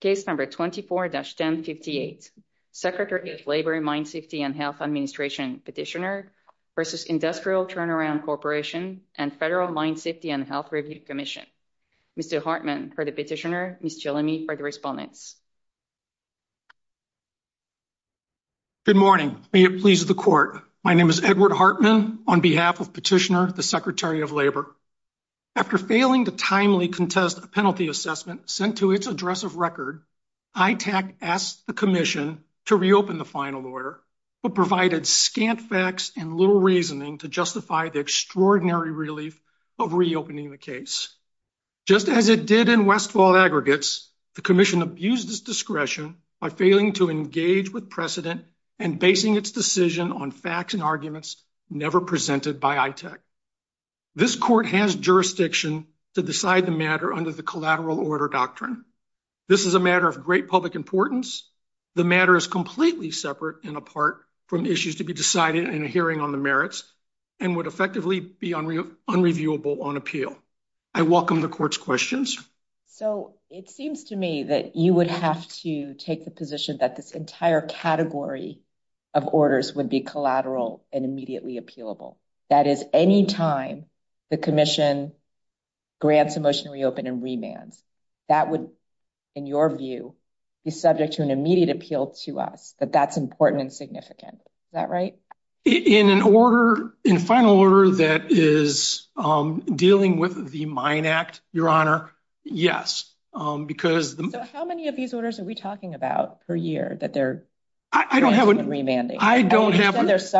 Case number 24-1058, Secretary of Labor, Mine Safety and Health Administration, Petitioner v. Industrial TurnAround Corporation and Federal Mine Safety and Health Review Commission. Mr. Hartman for the Petitioner, Ms. Chilame for the Respondents. Good morning, may it please the Court. My name is Edward Hartman on behalf of Petitioner, the Secretary of Labor. After failing to timely contest a penalty assessment sent to its address of record, ITAC asked the Commission to reopen the final order, but provided scant facts and little reasoning to justify the extraordinary relief of reopening the case. Just as it did in Westfall Aggregates, the Commission abused its discretion by failing to engage with precedent and basing its decision on facts and arguments never presented by ITAC. This Court has to decide the matter under the Collateral Order Doctrine. This is a matter of great public importance. The matter is completely separate and apart from issues to be decided in a hearing on the merits and would effectively be unreviewable on appeal. I welcome the Court's questions. So, it seems to me that you would have to take the position that this entire category of orders would be collateral and immediately appealable. That is, any time the Commission grants a motion to reopen and remands, that would, in your view, be subject to an immediate appeal to us, that that's important and significant. Is that right? In an order, in a final order that is dealing with the Mine Act, Your Honor, yes, because... So, how many of these orders are we talking about per year that they're granting and remanding? I don't have an exact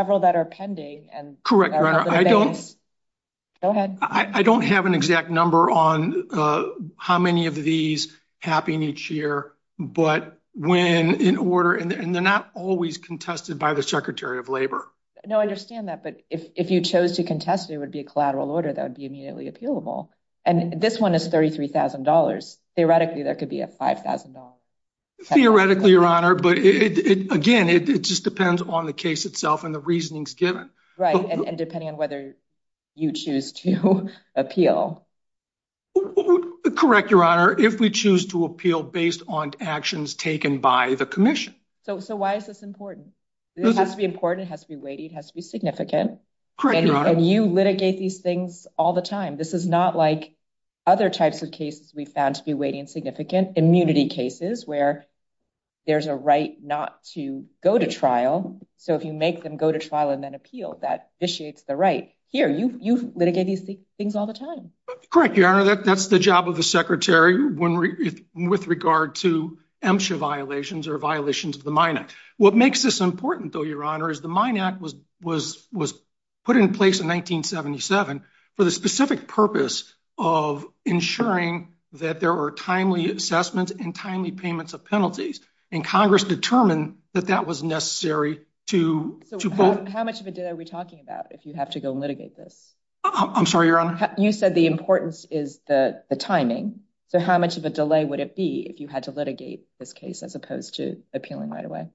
number on how many of these happen each year, but when in order, and they're not always contested by the Secretary of Labor. No, I understand that, but if you chose to contest it, it would be a collateral order that would be immediately appealable. And this one is $33,000. Theoretically, there could be a $5,000. Theoretically, Your Honor, but again, it just depends on the case itself and the reasonings given. Right, and depending on whether you choose to appeal. Correct, Your Honor, if we choose to appeal based on actions taken by the Commission. So, why is this important? This has to be important, it has to be weighty, it has to be significant. Correct, Your Honor. And you litigate these things all the time. This is not like other types of cases we found to be weighty and immunity cases where there's a right not to go to trial. So, if you make them go to trial and then appeal, that vitiates the right. Here, you litigate these things all the time. Correct, Your Honor, that's the job of the Secretary with regard to MSHA violations or violations of the Mine Act. What makes this important though, Your Honor, is the Mine Act was put in place in 1977 for the specific purpose of ensuring that there are timely assessments and timely payments of penalties and Congress determined that that was necessary to... So, how much of a delay are we talking about if you have to go litigate this? I'm sorry, Your Honor? You said the importance is the timing. So, how much of a delay would it be if you had to litigate this case as opposed to appealing right away?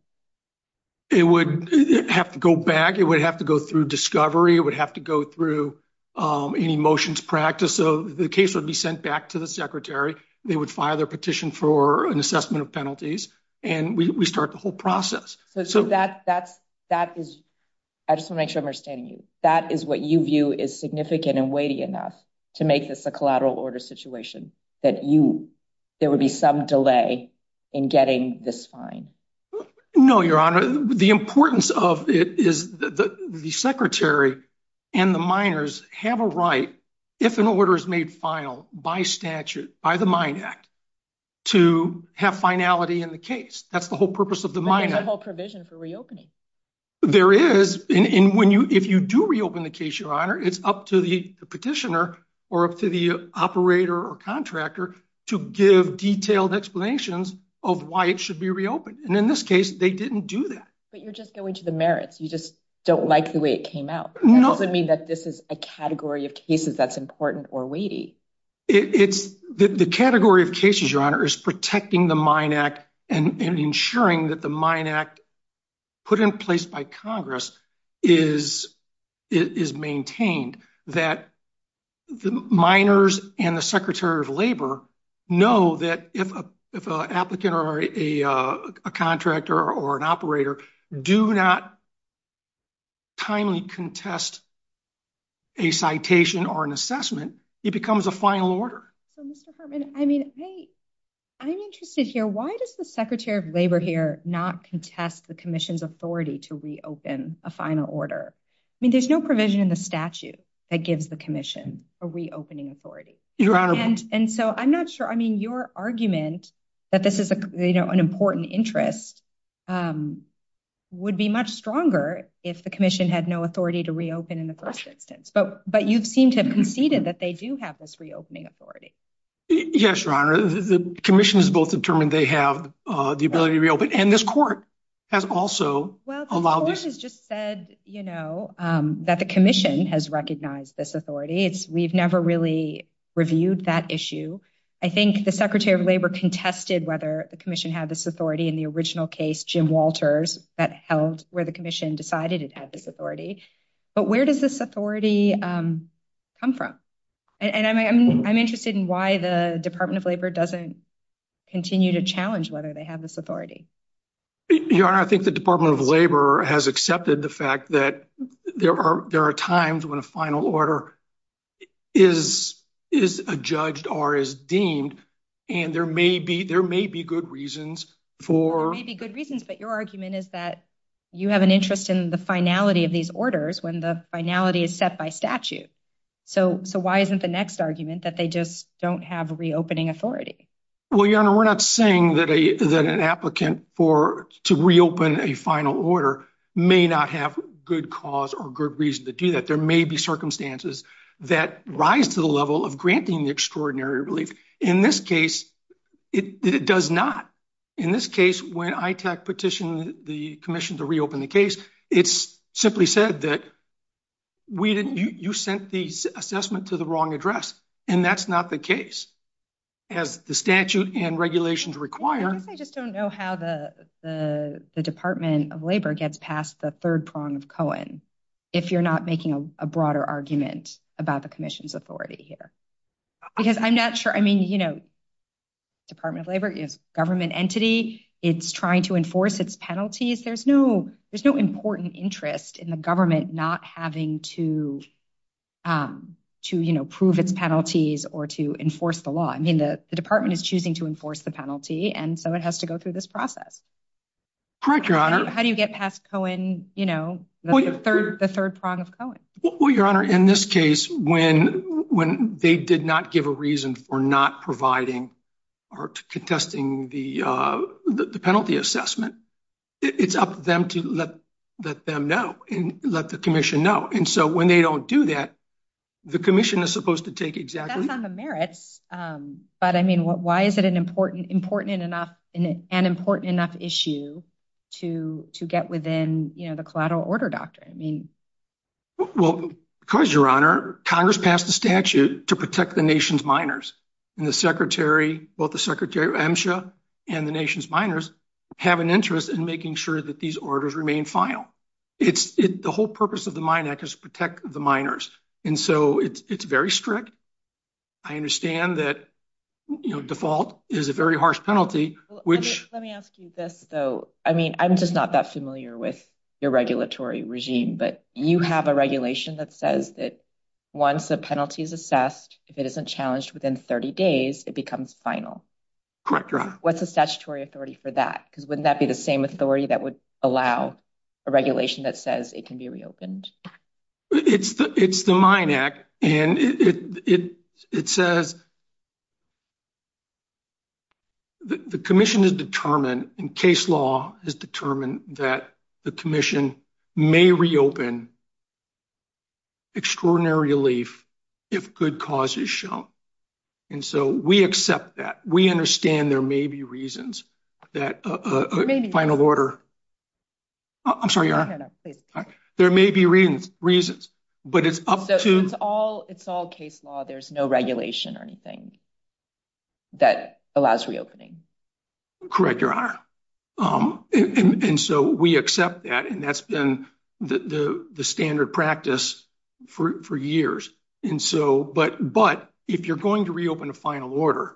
It would have to go back, it would have to go through discovery, it would have to go through any motions practice. So, the case would be sent back to the Secretary, they would file their petition for an assessment of penalties, and we start the whole process. So, I just want to make sure I'm understanding you. That is what you view is significant and weighty enough to make this a collateral order situation, that there would be some delay in getting this fine? No, Your Honor. The importance of it is that the Secretary and the miners have a right, if an order is made final by statute, by the Mine Act, to have finality in the case. That's the whole purpose of the Mine Act. There's a whole provision for reopening. There is, and if you do reopen the case, Your Honor, it's up to the petitioner or up to the operator or contractor to give detailed explanations of why it should be reopened. And in this case, they didn't do that. But you're just going to the merits. You just don't like the way it came out. That doesn't mean that this is a category of cases that's important or weighty. The category of cases, Your Honor, is protecting the Mine Act and ensuring that the Mine Act, put in place by Congress, is maintained. That the miners and the Secretary of Labor know that if an applicant or a contractor or an operator do not timely contest a citation or an assessment, it becomes a final order. So, Mr. Hartman, I mean, I'm interested here. Why does the Secretary of Labor here not contest the Commission's authority to reopen a final order? I mean, there's no provision in the argument that this is an important interest would be much stronger if the Commission had no authority to reopen in the first instance. But you seem to have conceded that they do have this reopening authority. Yes, Your Honor. The Commission has both determined they have the ability to reopen. And this Court has also allowed this. Well, the Court has just said that the Commission has recognized this authority. We've never really reviewed that issue. I think the Secretary of Labor contested whether the Commission had this authority in the original case, Jim Walters, that held where the Commission decided it had this authority. But where does this authority come from? And I'm interested in why the Department of Labor doesn't continue to challenge whether they have this authority. Your Honor, I think the Department of Labor has accepted the fact that there are times when a final order is adjudged or is deemed, and there may be good reasons for... There may be good reasons, but your argument is that you have an interest in the finality of these orders when the finality is set by statute. So why isn't the next argument that they just don't have reopening authority? Well, Your Honor, we're not saying that an applicant to reopen a final order may not have good cause or good reason to do that. There may be circumstances that rise to the level of granting the extraordinary relief. In this case, it does not. In this case, when ITAC petitioned the Commission to reopen the case, it simply said that you sent the assessment to the wrong address, and that's not the case. As the statute and regulations require... I just don't know how the Department of Labor gets past the third prong of Cohen, if you're not making a broader argument about the Commission's authority here. Because I'm not sure... Department of Labor is a government entity. It's trying to enforce its penalties. There's no important interest in the government not having to prove its penalties or to enforce the law. The department is choosing to enforce the penalty, and so it has to go through this process. Correct, Your Honor. How do you get past Cohen, the third prong of Cohen? Well, Your Honor, in this case, when they did not give a reason for not providing or contesting the penalty assessment, it's up to them to let them know and let the Commission know. And so when they don't do that, the Commission is supposed to take exactly... That's on the merits. But I mean, why is it an important enough issue to get within the collateral order doctrine? Well, because, Your Honor, Congress passed a statute to protect the nation's miners, and both the Secretary of MSHA and the nation's miners have an interest in making sure that these orders remain final. The whole purpose of the Mine Act is to protect the miners, and so it's very strict. I understand that default is a very harsh penalty, which... Let me ask you this, though. I mean, I'm just not that familiar with your regulatory regime, but you have a regulation that says that once the penalty is assessed, if it isn't challenged within 30 days, it becomes final. Correct, Your Honor. What's the statutory authority for that? Because wouldn't that be the same authority that would allow a regulation that says it can be reopened? It's the Mine Act, and it says the Commission is determined, and case law is determined, that the Commission may reopen extraordinary relief if good cause is shown. And so we accept that. We understand there may be that a final order... I'm sorry, Your Honor. No, no, please. There may be reasons, but it's up to... So it's all case law. There's no regulation or anything that allows reopening. Correct, Your Honor. And so we accept that, and that's been the standard practice for years. But if you're going to reopen a final order,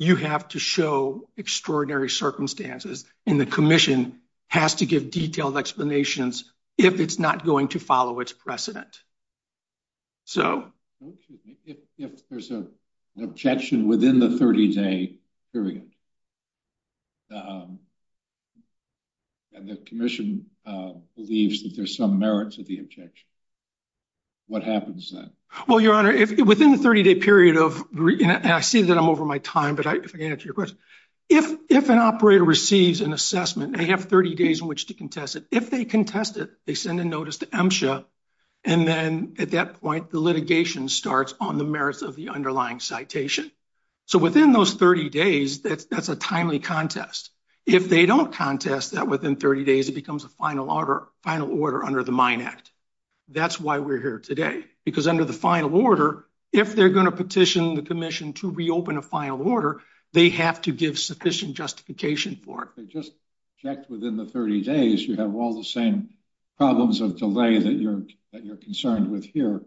you have to show extraordinary circumstances, and the Commission has to give detailed explanations if it's not going to follow its precedent. So... If there's an objection within the 30-day period, and the Commission believes that there's some merit to the objection, what happens then? Well, Your Honor, within the 30-day period of... And I see that I'm over my time, but if I can answer your question. If an operator receives an assessment, they have 30 days in which to contest it. If they contest it, they send a notice to MSHA, and then at that point, the litigation starts on the merits of the underlying citation. So within those 30 days, that's a timely contest. If they don't contest that within 30 days, it becomes a final order under the Mine Act. That's why we're here today, because under the final order, if they're going to petition the Commission to reopen a final order, they have to give sufficient justification for it. They just checked within the 30 days. You have all the same problems of delay that you're concerned with here.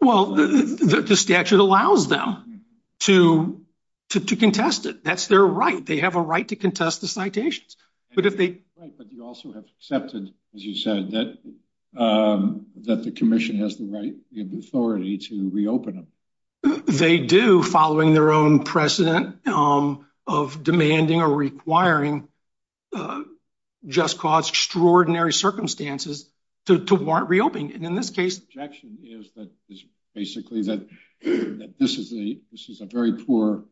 Well, the statute allows them to contest it. That's their right. They have a right to contest the citations. But if they... But you also have accepted, as you said, that the Commission has the right, you have the authority to reopen them. They do, following their own precedent of demanding or requiring just cause extraordinary circumstances to warrant reopening. And in this case... The objection is that basically that this is a very poor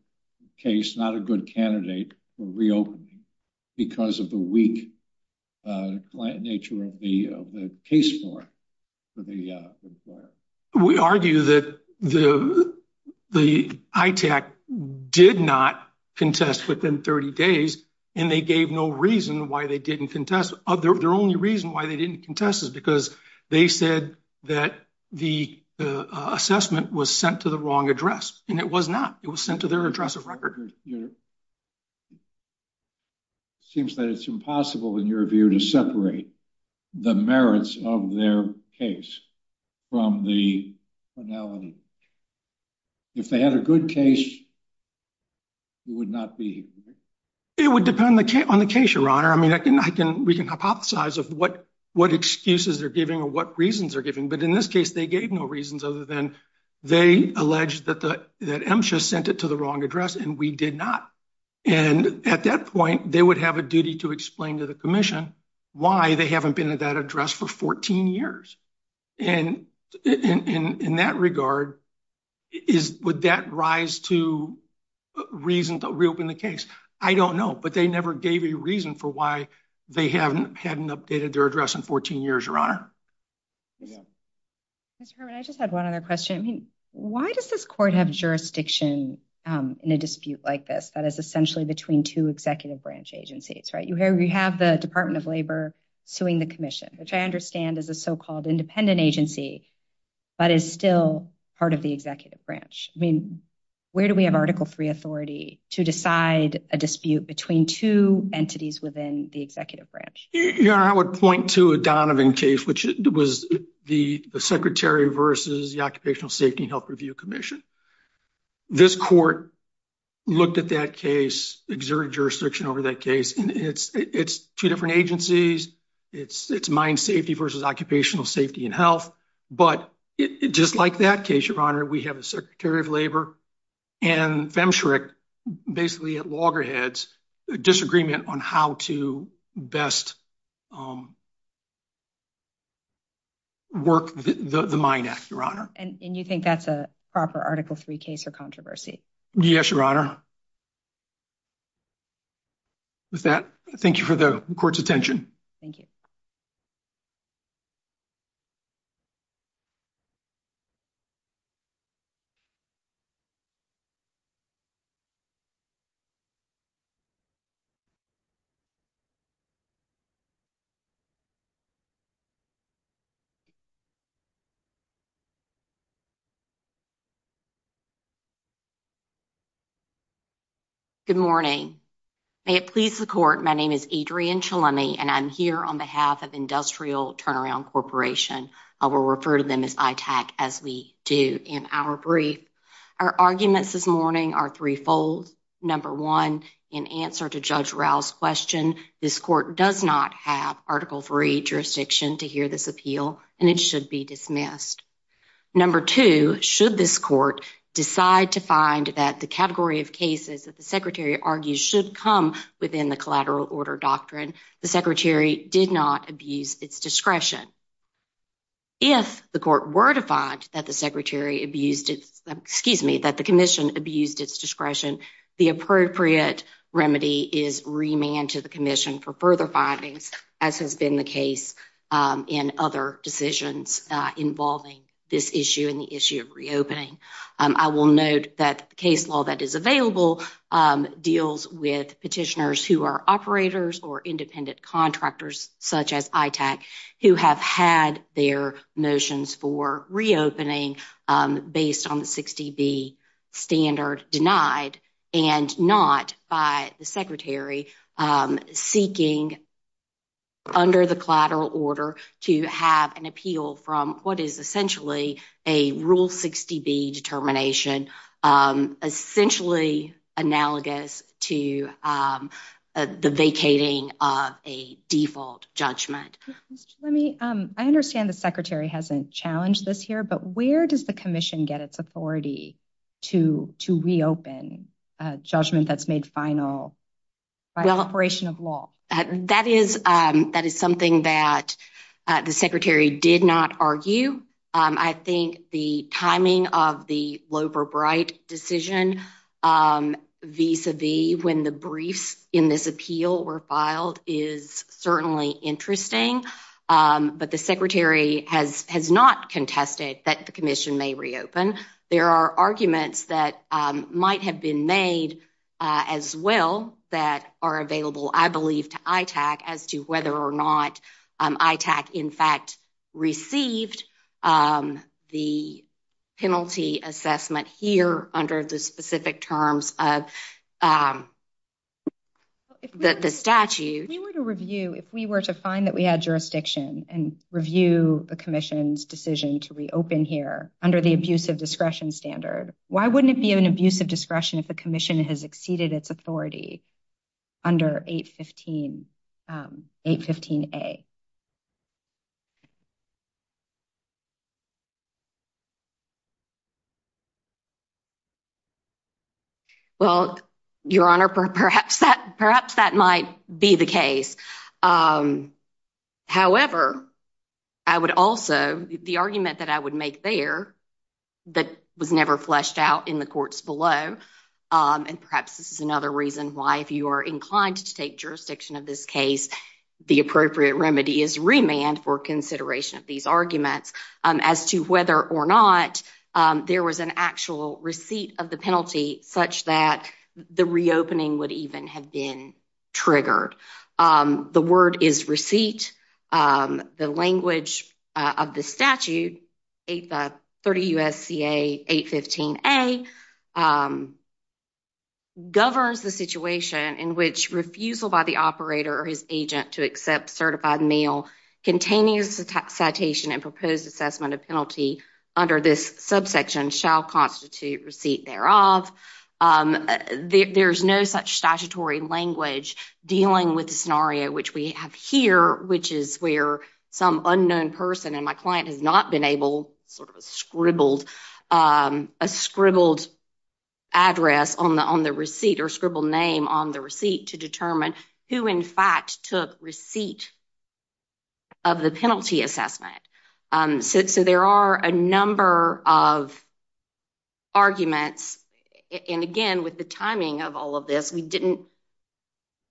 case, not a good candidate for reopening because of the weak nature of the case form for the... We argue that the ITAC did not contest within 30 days, and they gave no reason why they didn't contest. Their only reason why they didn't contest is because they said that the assessment was sent to the wrong address, and it was not. It was sent to their address of record. Seems that it's impossible, in your view, to separate the merits of their case from the finality. If they had a good case, it would not be... It would depend on the case, Your Honor. I mean, we can hypothesize of what excuses they're giving or what reasons they're giving, but in this case, they gave no reasons other than they alleged that MSHA sent it to the wrong address, and we did not. And at that point, they would have a duty to explain to the Commission why they haven't been at that address for 14 years. And in that regard, would that rise to reason to reopen the case? I don't know, but they never gave a reason for why they hadn't updated their address in 14 years, Your Honor. Mr. Herman, I just had one other question. I mean, why does this court have jurisdiction in a dispute like this that is essentially between two executive branch agencies, right? You have the Department of Labor suing the Commission, which I understand is a so-called independent agency, but is still part of the executive branch. I mean, where do we have Article III authority to decide a dispute between two entities within the executive branch? Your Honor, I would point to a Donovan case, which was the Secretary versus the Occupational Safety and Health Review Commission. This court looked at that case, exerted jurisdiction over that case, and it's two different agencies. It's mine safety versus occupational safety and health, but just like that case, Your Honor, we have a Secretary of Labor and Femsurich basically at loggerheads a disagreement on how to best work the Minac, Your Honor. And you think that's a proper Article III case or controversy? Yes, Your Honor. With that, thank you for the court's attention. Thank you. Good morning. May it please the court, my name is Adrienne Chalemi, and I'm here on behalf of Industrial Turnaround Corporation. I will refer to them as ITAC as we do in our brief. Our arguments this morning are threefold. Number one, in answer to Judge Rowe's question, this court does not have Article III jurisdiction to hear this appeal, and it should be dismissed. Number two, should this court decide to find that the category of cases that the Secretary argues should come within the collateral order doctrine, the Secretary did not abuse its discretion. If the court were to find that the Secretary abused its, excuse me, that the Commission abused its discretion, the appropriate remedy is remand to the Commission for further findings, as has been the case in other decisions involving this issue and the issue of reopening. I will note that the case law that is available deals with petitioners who are operators or independent contractors, such as ITAC, who have had their motions for reopening based on the 60B standard denied and not by the Secretary seeking under the collateral order to have an appeal from what is essentially a Rule 60B determination, essentially analogous to the vacating of a default judgment. Let me, I understand the Secretary hasn't challenged this here, but where does the Commission get its authority to reopen a judgment that's made final by the operation of law? That is something that the Secretary did not argue. I think the timing of the Loeb or Bright decision vis-a-vis when the briefs in this appeal were filed is certainly interesting, but the Secretary has not contested that the Commission may reopen. There are documents that might have been made as well that are available, I believe, to ITAC as to whether or not ITAC in fact received the penalty assessment here under the specific terms of the statute. If we were to review, if we were to find that we had jurisdiction and review the Commission's decision to reopen here under the abusive discretion standard, why wouldn't it be an abusive discretion if the Commission has exceeded its authority under 815A? Well, Your Honor, perhaps that might be the case. However, I would also, the argument that I would make there that was never fleshed out in the courts below, and perhaps this is another reason why if you are inclined to take jurisdiction of this case, the appropriate remedy is remand for consideration of these arguments as to whether or not there was an actual receipt of the penalty such that the reopening would even have been triggered. The word is receipt. The language of the statute, 30 U.S.C.A. 815A, governs the situation in which refusal by the operator or his agent to accept certified mail containing a citation and proposed assessment of penalty under this subsection shall constitute receipt thereof. There's no such statutory language dealing with the scenario which we have here, which is where some unknown person and my client has not been able, sort of scribbled, a scribbled address on the receipt or scribbled name on the receipt to determine who in fact took receipt of the penalty assessment. So there are a number of arguments, and again with the timing of all of this, we didn't,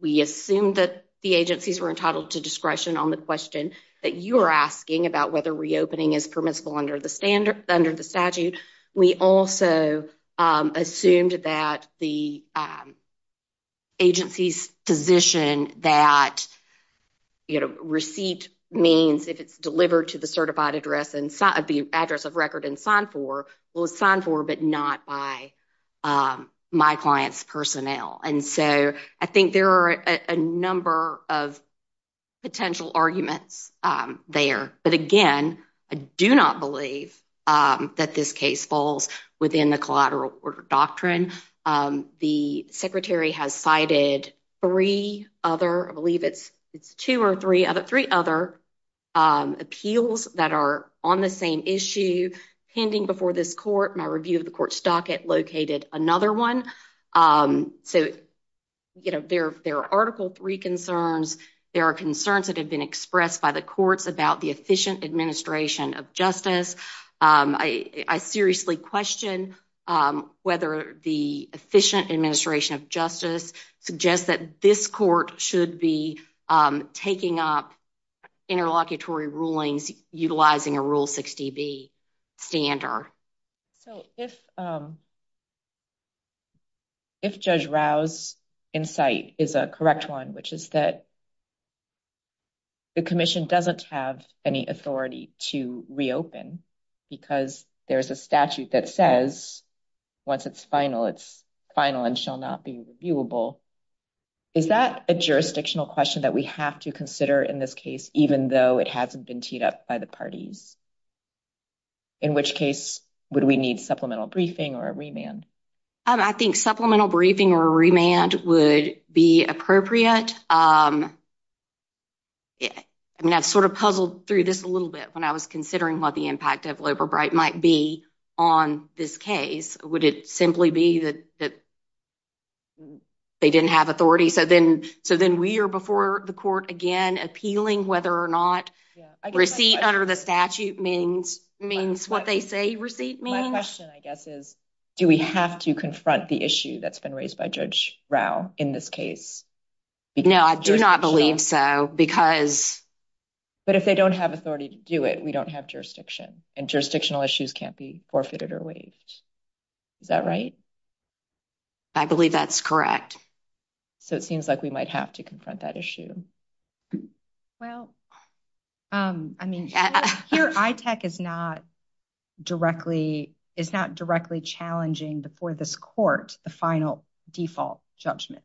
we assumed that the agencies were entitled to discretion on the question that you are asking about whether reopening is permissible under the standard, under the statute. We also assumed that the agency's position that, you know, receipt means if it's delivered to the certified address and the address of record and signed for, well it's signed for but not by my client's personnel. And do not believe that this case falls within the collateral order doctrine. The secretary has cited three other, I believe it's it's two or three other, three other appeals that are on the same issue pending before this court. My review of the court's docket located another one. So, you know, there are Article III concerns. There are concerns that have been expressed by the about the efficient administration of justice. I seriously question whether the efficient administration of justice suggests that this court should be taking up interlocutory rulings utilizing a Rule 60B standard. So if Judge Rao's insight is a correct one, which is that the commission doesn't have any authority to reopen because there's a statute that says once it's final it's final and shall not be reviewable. Is that a jurisdictional question that we have to consider in this case even though it hasn't been teed up by the parties? In which case would we need supplemental briefing or a remand? I think supplemental briefing or remand would be appropriate. I mean, I've sort of puzzled through this a little bit when I was considering what the impact of Loeb or Bright might be on this case. Would it simply be that they didn't have authority? So then we are before the court again appealing whether or not receipt under the statute means what they say receipt means. My question, I guess, is do we have to confront the issue that's been raised by Judge Rao in this case? No, I do not believe so because... But if they don't have authority to do it, we don't have jurisdiction and jurisdictional issues can't be forfeited or waived. Is that right? I believe that's correct. So it seems like we might have to confront that issue. Well, I mean, here ITEC is not directly challenging before this court the final default judgment.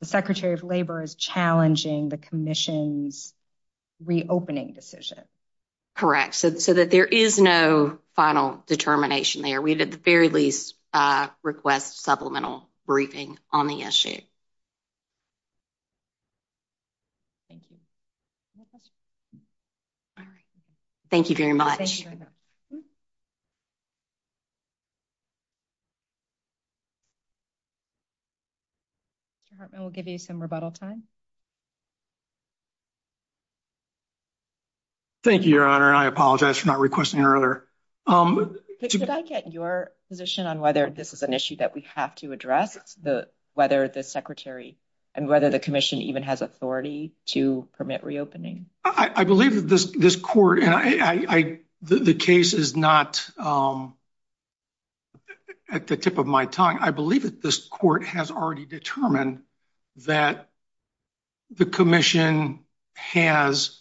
The Secretary of Labor is challenging the commission's reopening decision. Correct. So that there is no final determination there. We at the very least request supplemental briefing on the issue. Thank you. Any questions? All right. Thank you very much. Mr. Hartman, we'll give you some rebuttal time. Thank you, Your Honor. I apologize for not requesting earlier. Did I get your position on whether this is an issue that we have to address, whether the secretary and whether the commission even has authority to permit reopening? I believe that this court and the case is not at the tip of my tongue. I believe that this court has already determined that the commission has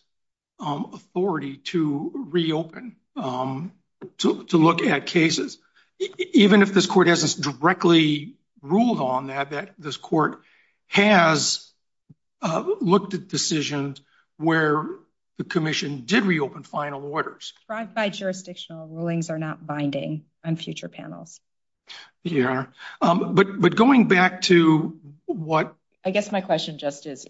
authority to reopen, to look at cases. Even if this court hasn't directly ruled on that, that this court has looked at decisions where the commission did reopen final orders. Drive-by jurisdictional rulings are not binding on future panels. Your Honor, but going back to what... I guess my question just is,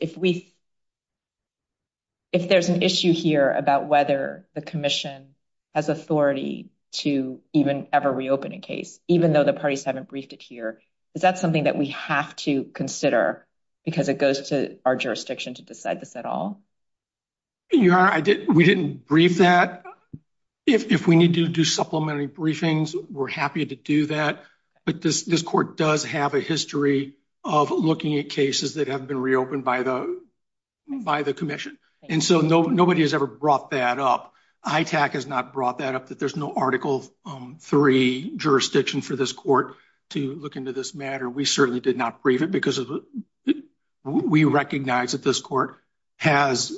if there's an issue here about whether the commission has authority to even ever reopen a case, even though the parties haven't briefed it here, is that something that we have to consider because it goes to our jurisdiction to decide this at all? Your Honor, we didn't brief that. If we do supplementary briefings, we're happy to do that. But this court does have a history of looking at cases that have been reopened by the commission. And so nobody has ever brought that up. ITAC has not brought that up, that there's no Article III jurisdiction for this court to look into this matter. We certainly did not brief it because we recognize that this court has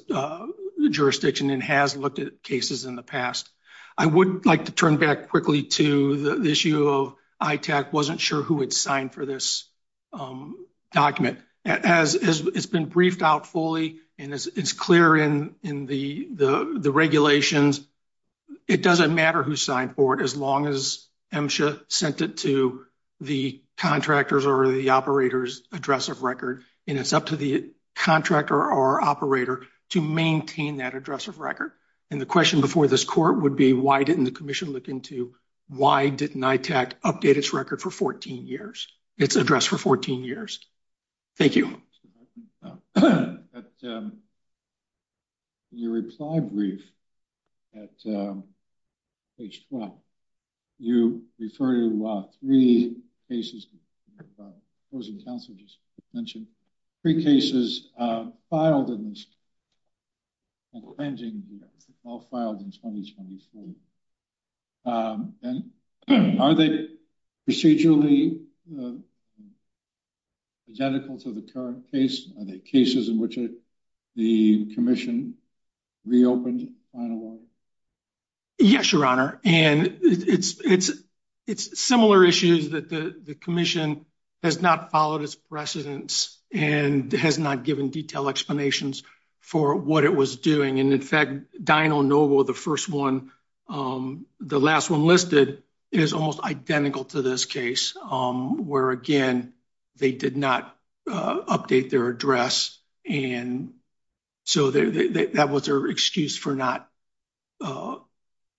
jurisdiction and has looked at cases in the past. I would like to turn back quickly to the issue of ITAC wasn't sure who had signed for this document. It's been briefed out fully and it's clear in the regulations. It doesn't matter who signed for it, as long as MSHA sent it to the contractor's or the operator's address of record. And it's up to the contractor or operator to maintain that address of record. And the question before this court would be, why didn't the commission look into why didn't ITAC update its record for 14 years, its address for 14 years? Thank you. Your reply brief at page 12, you refer to three cases, the opposing counsel just mentioned, three cases filed in this pending, all filed in 2024. And are they procedurally identical to the current case? Are they cases in which the commission reopened final order? Yes, your honor. And it's similar issues that the commission has not followed its precedence and has not given detailed explanations for what it was doing. And in fact, Dino Noble, the first one, the last one listed is almost identical to this case, where again, they did not update their address. And so that was their excuse for not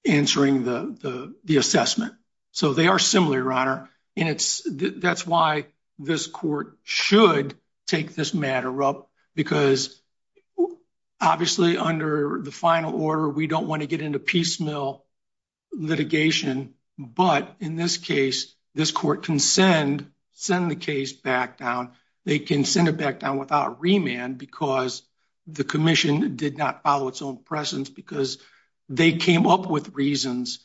answering the assessment. So they are similar, your honor. And that's why this court should take this matter up because obviously under the final order, we don't want to get into piecemeal litigation. But in this case, this court can send the case back down. They can send it back down without remand because the commission did not follow its own precedence because they came up with reasons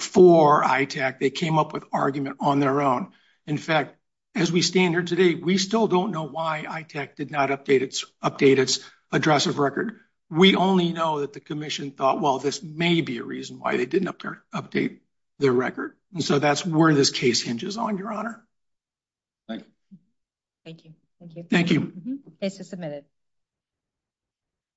for ITAC. They came up with argument on their own. In fact, as we stand here today, we still don't know why ITAC did not update its address of record. We only know that the commission thought, well, this may be a reason why they didn't update their record. And so that's where this case hinges on, your honor. Thank you. Thank you. Thank you. Thank you. Case is submitted.